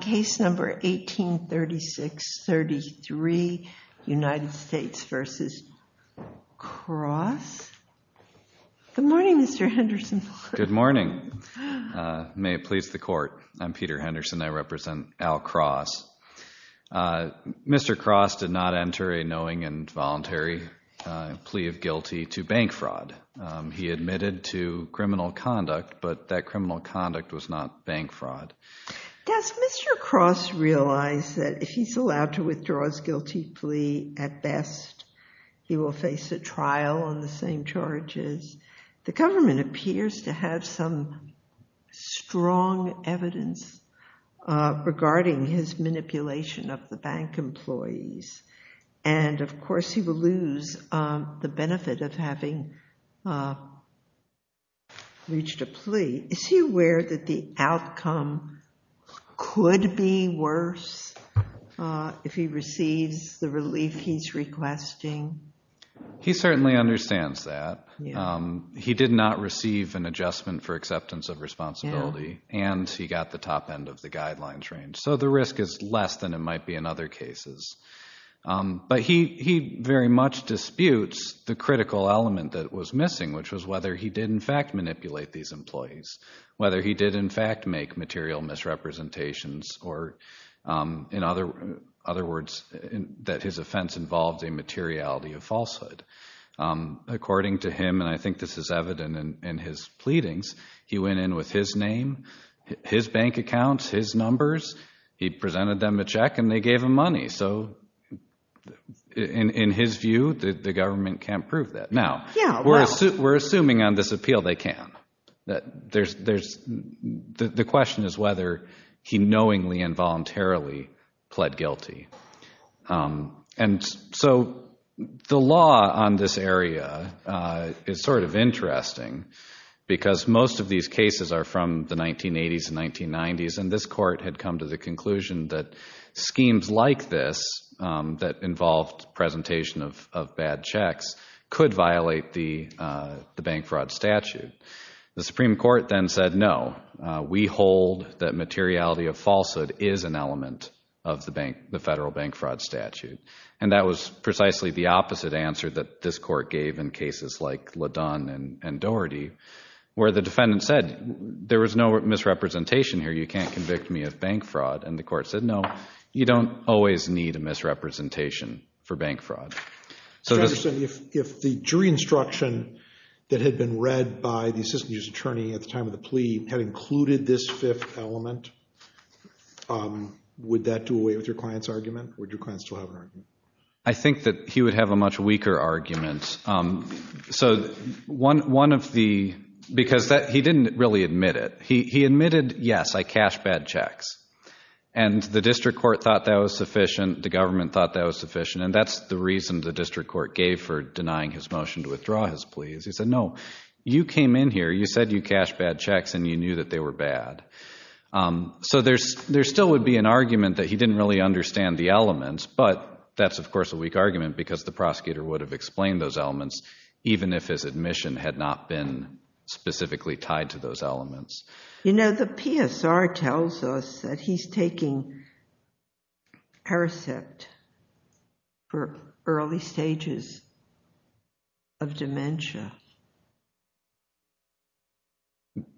Case number 1836-33, United States v. Cross. Good morning, Mr. Henderson. Good morning. May it please the Court. I'm Peter Henderson. I represent Al Cross. Mr. Cross did not enter a knowing and voluntary plea of guilty to bank fraud. He admitted to criminal conduct, but that criminal conduct was not bank fraud. Does Mr. Cross realize that if he's allowed to withdraw his guilty plea at best, he will face a trial on the same charges? The government appears to have some strong evidence regarding his manipulation of the bank employees, and of course he will lose the benefit of having reached a plea. Is he aware that the outcome could be worse if he receives the relief he's requesting? He certainly understands that. He did not receive an adjustment for acceptance of responsibility, and he got the top end of the guidelines range. So the risk is less than it might be in other cases. But he very much disputes the critical element that was missing, which was whether he did in fact manipulate these employees, whether he did in fact make material misrepresentations, or in other words, that his offense involved a materiality of falsehood. According to him, and I think this is evident in his pleadings, he went in with his name, his bank accounts, his numbers. He presented them a check, and they gave him money. So in his view, the government can't prove that. Now, we're assuming on this appeal they can. The question is whether he knowingly and voluntarily pled guilty. And so the law on this area is sort of interesting because most of these cases are from the 1980s and 1990s, and this court had come to the conclusion that schemes like this that involved presentation of bad checks could violate the bank fraud statute. The Supreme Court then said no, we hold that materiality of falsehood is an element of the federal bank fraud statute. And that was precisely the opposite answer that this court gave in cases like LaDun and Doherty, where the defendant said there was no misrepresentation here, you can't convict me of bank fraud. And the court said no, you don't always need a misrepresentation for bank fraud. Mr. Anderson, if the jury instruction that had been read by the assistant judge's attorney at the time of the plea had included this fifth element, would that do away with your client's argument? Would your client still have an argument? I think that he would have a much weaker argument. So one of the—because he didn't really admit it. He admitted, yes, I cashed bad checks, and the district court thought that was sufficient, the government thought that was sufficient, and that's the reason the district court gave for denying his motion to withdraw his pleas. He said no, you came in here, you said you cashed bad checks, and you knew that they were bad. So there still would be an argument that he didn't really understand the elements, but that's, of course, a weak argument because the prosecutor would have explained those elements even if his admission had not been specifically tied to those elements. You know, the PSR tells us that he's taking Paracet for early stages of dementia.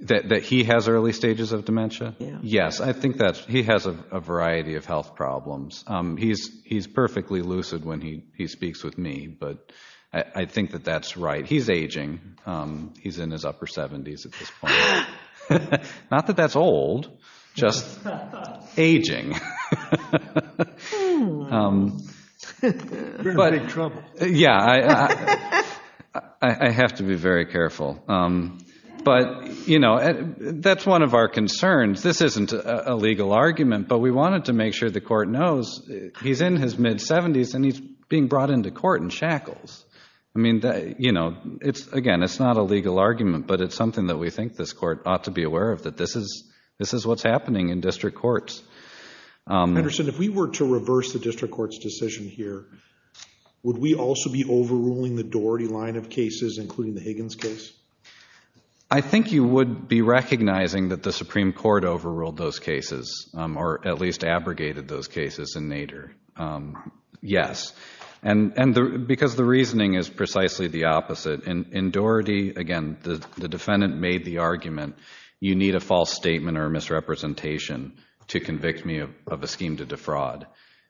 That he has early stages of dementia? Yes. Yes, I think that he has a variety of health problems. He's perfectly lucid when he speaks with me, but I think that that's right. He's aging. He's in his upper 70s at this point. Not that that's old, just aging. You're in big trouble. Yeah, I have to be very careful. But, you know, that's one of our concerns. This isn't a legal argument, but we wanted to make sure the court knows he's in his mid-70s and he's being brought into court in shackles. I mean, you know, again, it's not a legal argument, but it's something that we think this court ought to be aware of, that this is what's happening in district courts. Anderson, if we were to reverse the district court's decision here, would we also be overruling the Doherty line of cases, including the Higgins case? I think you would be recognizing that the Supreme Court overruled those cases, or at least abrogated those cases in Nader, yes, because the reasoning is precisely the opposite. In Doherty, again, the defendant made the argument, you need a false statement or a misrepresentation to convict me of a scheme to defraud.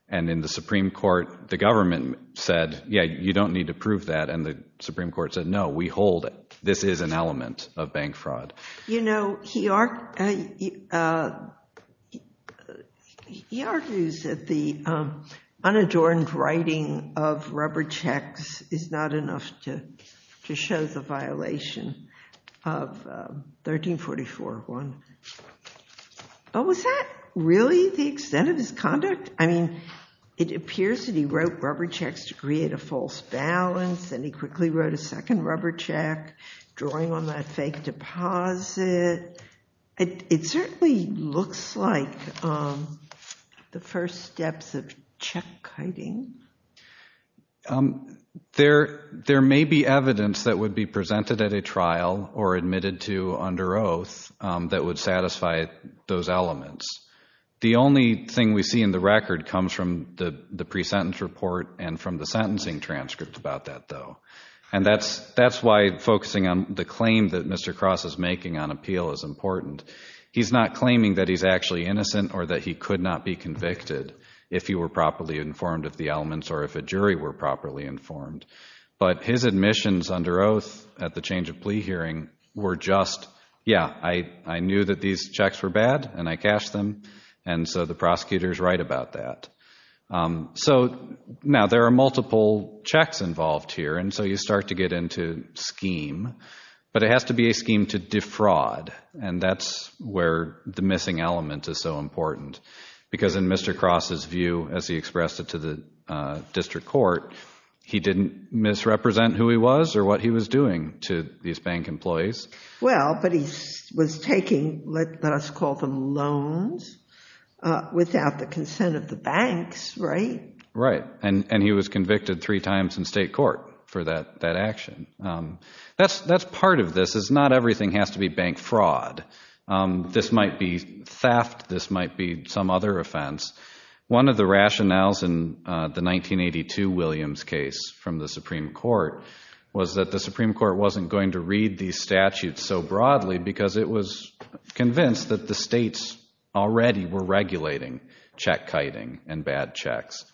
And in the Supreme Court, the government said, yeah, you don't need to prove that, and the Supreme Court said, no, we hold this is an element of bank fraud. You know, he argues that the unadorned writing of rubber checks is not enough to show the violation of 1344-1. But was that really the extent of his conduct? I mean, it appears that he wrote rubber checks to create a false balance, and he quickly wrote a second rubber check, drawing on that fake deposit. It certainly looks like the first steps of check-kiting. There may be evidence that would be presented at a trial or admitted to under oath that would satisfy those elements. The only thing we see in the record comes from the pre-sentence report and from the sentencing transcript about that, though. And that's why focusing on the claim that Mr. Cross is making on appeal is important. He's not claiming that he's actually innocent or that he could not be convicted if he were properly informed of the elements or if a jury were properly informed. But his admissions under oath at the change of plea hearing were just, yeah, I knew that these checks were bad and I cashed them, and so the prosecutor's right about that. So now there are multiple checks involved here, and so you start to get into scheme. But it has to be a scheme to defraud, and that's where the missing element is so important. Because in Mr. Cross's view, as he expressed it to the district court, he didn't misrepresent who he was or what he was doing to these bank employees. Well, but he was taking, let us call them loans, without the consent of the banks, right? Right, and he was convicted three times in state court for that action. That's part of this, is not everything has to be bank fraud. This might be theft, this might be some other offense. One of the rationales in the 1982 Williams case from the Supreme Court was that the Supreme Court wasn't going to read these statutes so broadly because it was convinced that the states already were regulating check-kiting and bad checks.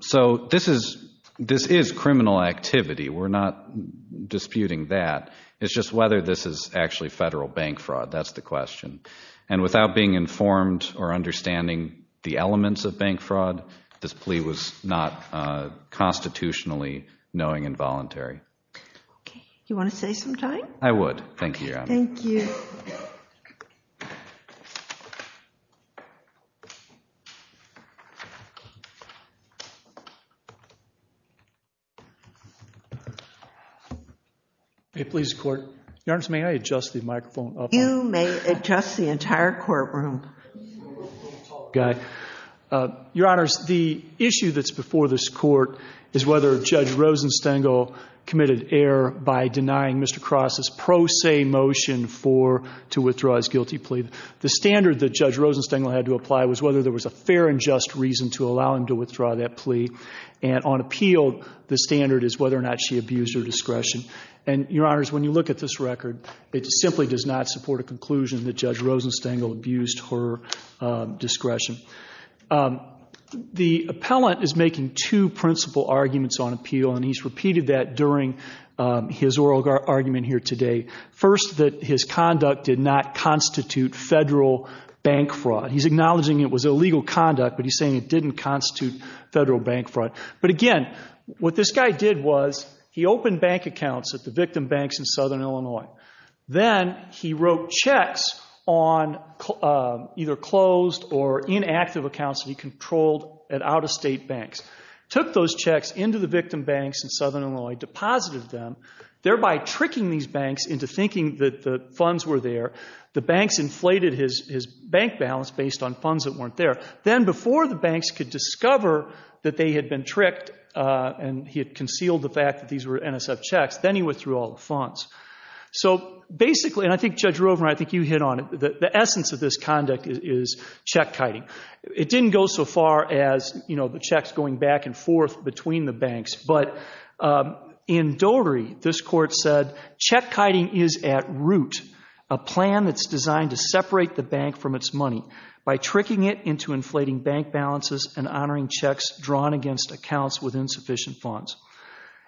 So this is criminal activity. We're not disputing that. It's just whether this is actually federal bank fraud. That's the question. And without being informed or understanding the elements of bank fraud, this plea was not constitutionally knowing and voluntary. Okay. Do you want to say something? I would. Thank you, Your Honor. Thank you. Your Honor, may I adjust the microphone? You may adjust the entire courtroom. Your Honor, the issue that's before this Court is whether Judge Rosenstengel committed error by denying Mr. Cross's pro se motion to withdraw his guilty plea. The standard that Judge Rosenstengel had to apply was whether there was a fair and just reason to allow him to withdraw that plea. And on appeal, the standard is whether or not she abused her discretion. And, Your Honor, when you look at this record, it simply does not support a conclusion that Judge Rosenstengel abused her discretion. The appellant is making two principal arguments on appeal, and he's repeated that during his oral argument here today. First, that his conduct did not constitute federal bank fraud. He's acknowledging it was illegal conduct, but he's saying it didn't constitute federal bank fraud. But, again, what this guy did was he opened bank accounts at the victim banks in southern Illinois. Then he wrote checks on either closed or inactive accounts that he controlled at out-of-state banks, took those checks into the victim banks in southern Illinois, deposited them, thereby tricking these banks into thinking that the funds were there. The banks inflated his bank balance based on funds that weren't there. Then, before the banks could discover that they had been tricked and he had concealed the fact that these were NSF checks, then he withdrew all the funds. So, basically, and I think, Judge Rovner, I think you hit on it, the essence of this conduct is check-kiting. It didn't go so far as, you know, the checks going back and forth between the banks, but in dotery, this court said, check-kiting is at root a plan that's designed to separate the bank from its money by tricking it into inflating bank balances and honoring checks drawn against accounts with insufficient funds.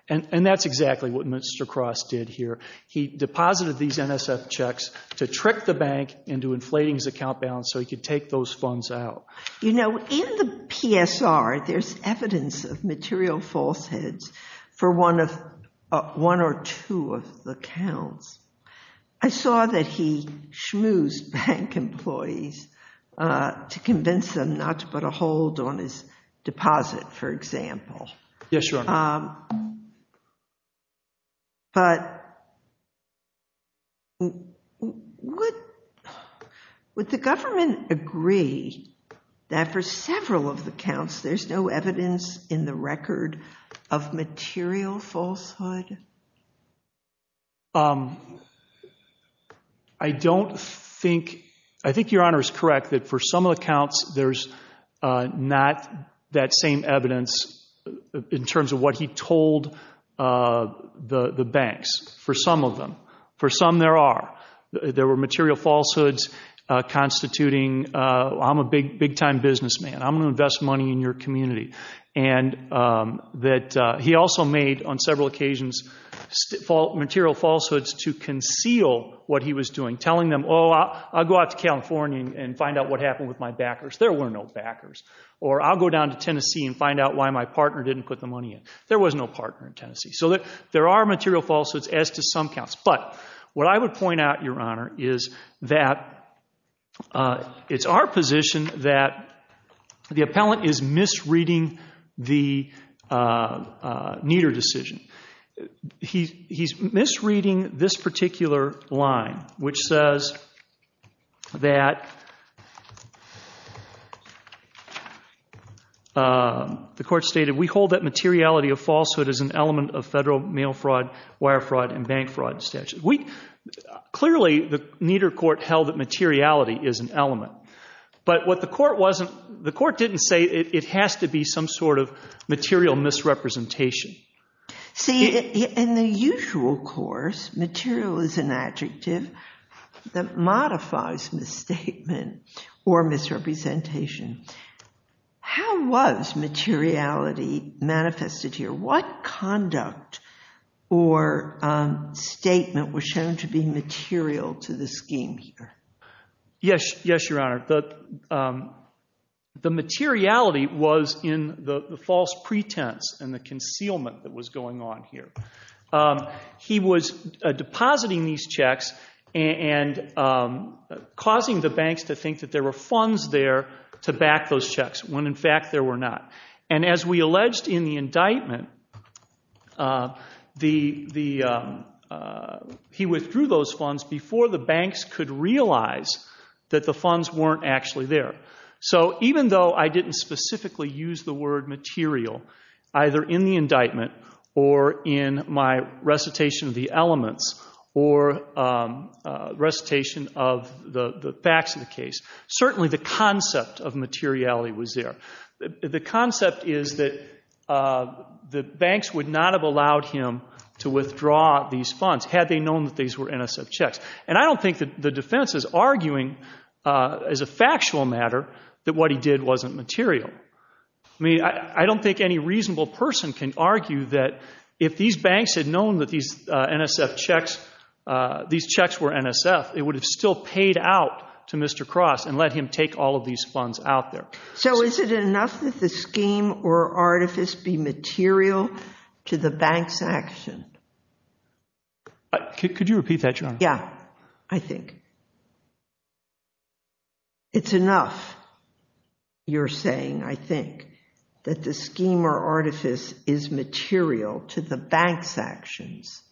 And that's exactly what Mr. Cross did here. He deposited these NSF checks to trick the bank into inflating his account balance so he could take those funds out. You know, in the PSR, there's evidence of material falsehoods for one or two of the accounts. I saw that he schmoozed bank employees to convince them not to put a hold on his deposit, for example. Yes, Your Honor. But would the government agree that for several of the accounts, there's no evidence in the record of material falsehood? I don't think—I think Your Honor is correct that for some of the accounts, there's not that same evidence in terms of what he told the banks, for some of them. For some, there are. There were material falsehoods constituting, I'm a big-time businessman. I'm going to invest money in your community. And that he also made, on several occasions, material falsehoods to conceal what he was doing, telling them, oh, I'll go out to California and find out what happened with my backers. There were no backers. Or I'll go down to Tennessee and find out why my partner didn't put the money in. There was no partner in Tennessee. So there are material falsehoods as to some accounts. But what I would point out, Your Honor, is that it's our position that the appellant is misreading the Nieder decision. He's misreading this particular line, which says that the court stated, we hold that materiality of falsehood is an element of federal mail fraud, wire fraud, and bank fraud statutes. Clearly, the Nieder court held that materiality is an element. But the court didn't say it has to be some sort of material misrepresentation. See, in the usual course, material is an adjective that modifies misstatement or misrepresentation. How was materiality manifested here? What conduct or statement was shown to be material to the scheme here? Yes, Your Honor, the materiality was in the false pretense and the concealment that was going on here. He was depositing these checks and causing the banks to think that there were funds there to back those checks when, in fact, there were not. And as we alleged in the indictment, he withdrew those funds before the banks could realize that the funds weren't actually there. So even though I didn't specifically use the word material, either in the indictment or in my recitation of the elements or recitation of the facts of the case, certainly the concept of materiality was there. The concept is that the banks would not have allowed him to withdraw these funds had they known that these were NSF checks. And I don't think that the defense is arguing, as a factual matter, that what he did wasn't material. I mean, I don't think any reasonable person can argue that if these banks had known that these NSF checks were NSF, it would have still paid out to Mr. Cross and let him take all of these funds out there. So is it enough that the scheme or artifice be material to the bank's action? Could you repeat that, Your Honor? Yeah, I think. It's enough, you're saying, I think, that the scheme or artifice is material to the bank's actions.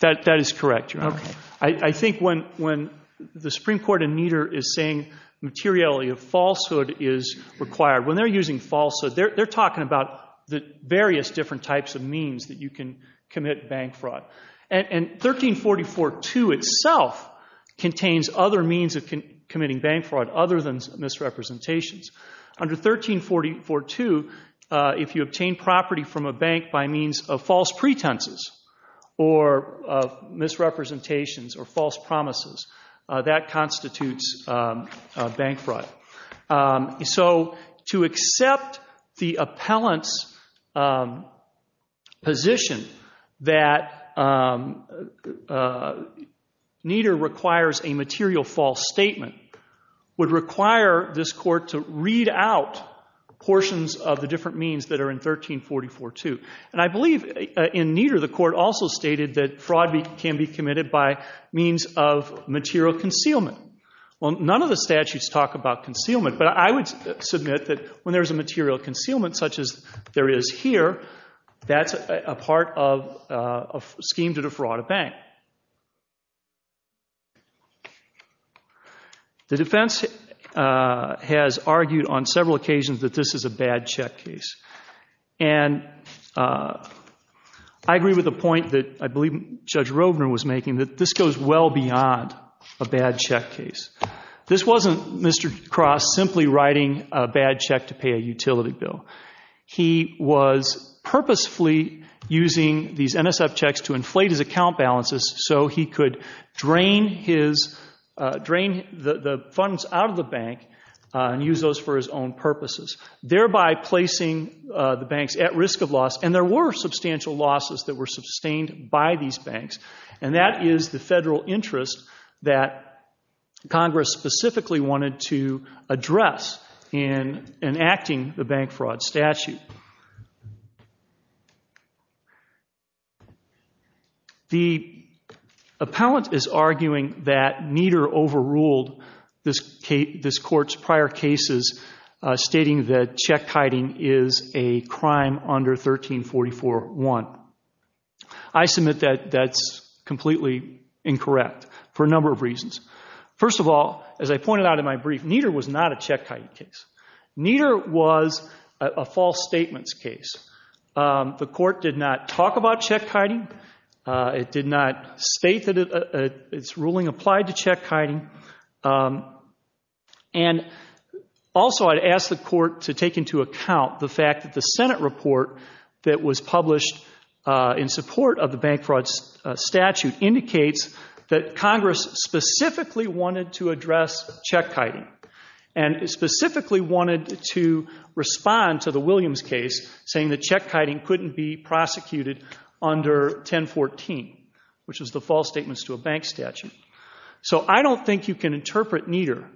That is correct, Your Honor. Okay. I think when the Supreme Court ammeter is saying materiality of falsehood is required, when they're using falsehood, they're talking about the various different types of means that you can commit bank fraud. And 1344-2 itself contains other means of committing bank fraud other than misrepresentations. Under 1344-2, if you obtain property from a bank by means of false pretenses or misrepresentations or false promises, that constitutes bank fraud. So to accept the appellant's position that Nieder requires a material false statement would require this Court to read out portions of the different means that are in 1344-2. And I believe in Nieder the Court also stated that fraud can be committed by means of material concealment. Well, none of the statutes talk about concealment, but I would submit that when there's a material concealment such as there is here, that's a part of a scheme to defraud a bank. The defense has argued on several occasions that this is a bad check case. And I agree with the point that I believe Judge Rovner was making, that this goes well beyond a bad check case. This wasn't Mr. Cross simply writing a bad check to pay a utility bill. He was purposefully using these NSF checks to inflate his account balances so he could drain the funds out of the bank and use those for his own purposes, thereby placing the banks at risk of loss. And there were substantial losses that were sustained by these banks, and that is the federal interest that Congress specifically wanted to address in enacting the bank fraud statute. The appellant is arguing that Nieder overruled this Court's prior cases, stating that check hiding is a crime under 1344.1. I submit that that's completely incorrect for a number of reasons. First of all, as I pointed out in my brief, Nieder was not a check hiding case. Nieder was a false statements case. The Court did not talk about check hiding. It did not state that its ruling applied to check hiding. And also I'd ask the Court to take into account the fact that the Senate report that was published in support of the bank fraud statute indicates that Congress specifically wanted to address check hiding and specifically wanted to respond to the Williams case saying that check hiding couldn't be prosecuted under 1014, which is the false statements to a bank statute. So I don't think you can interpret Nieder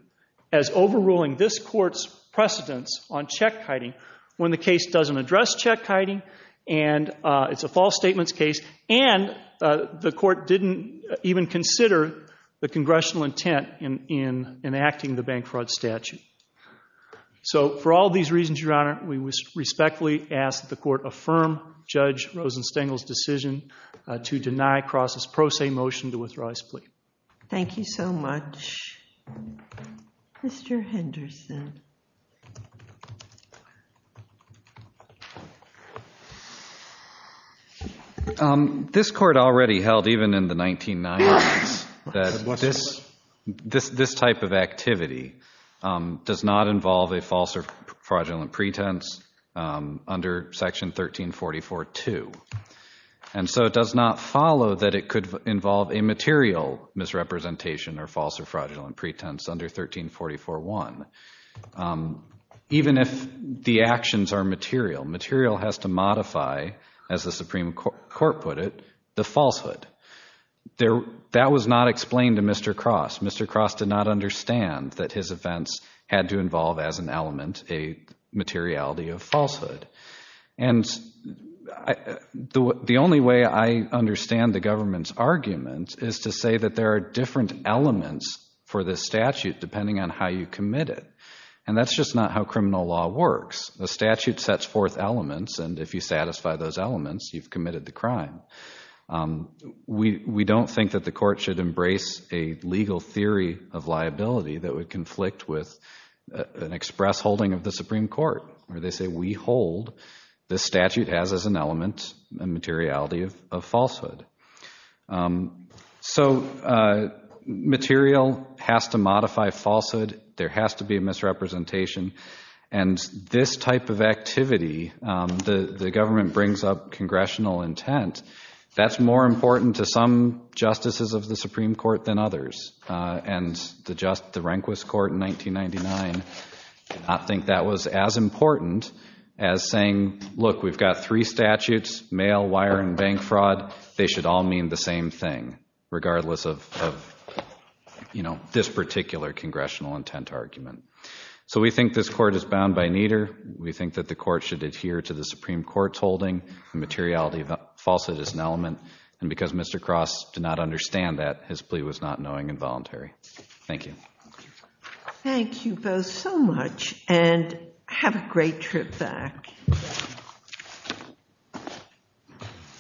as overruling this Court's precedence on check hiding when the case doesn't address check hiding and it's a false statements case, and the Court didn't even consider the congressional intent in enacting the bank fraud statute. So for all these reasons, Your Honor, we respectfully ask that the Court affirm Judge Rosenstengel's decision to deny Cross's pro se motion to withdraw his plea. Thank you so much. Mr. Henderson. This Court already held, even in the 1990s, that this type of activity does not involve a false or fraudulent pretense under Section 1344.2. And so it does not follow that it could involve a material misrepresentation or false or fraudulent pretense under 1344.1. Even if the actions are material, material has to modify, as the Supreme Court put it, the falsehood. That was not explained to Mr. Cross. Mr. Cross did not understand that his offense had to involve, as an element, a materiality of falsehood. And the only way I understand the government's argument is to say that there are different elements for this statute depending on how you commit it. And that's just not how criminal law works. The statute sets forth elements, and if you satisfy those elements, you've committed the crime. We don't think that the Court should embrace a legal theory of liability that would conflict with an express holding of the Supreme Court, where they say we hold the statute has as an element a materiality of falsehood. So material has to modify falsehood. There has to be a misrepresentation. And this type of activity, the government brings up congressional intent, that's more important to some justices of the Supreme Court than others. And the Rehnquist Court in 1999 did not think that was as important as saying, look, we've got three statutes, mail, wire, and bank fraud. They should all mean the same thing, regardless of this particular congressional intent argument. So we think this Court is bound by neither. We think that the Court should adhere to the Supreme Court's holding the materiality of falsehood is an element. And because Mr. Cross did not understand that, his plea was not knowing and voluntary. Thank you. Thank you both so much, and have a great trip back.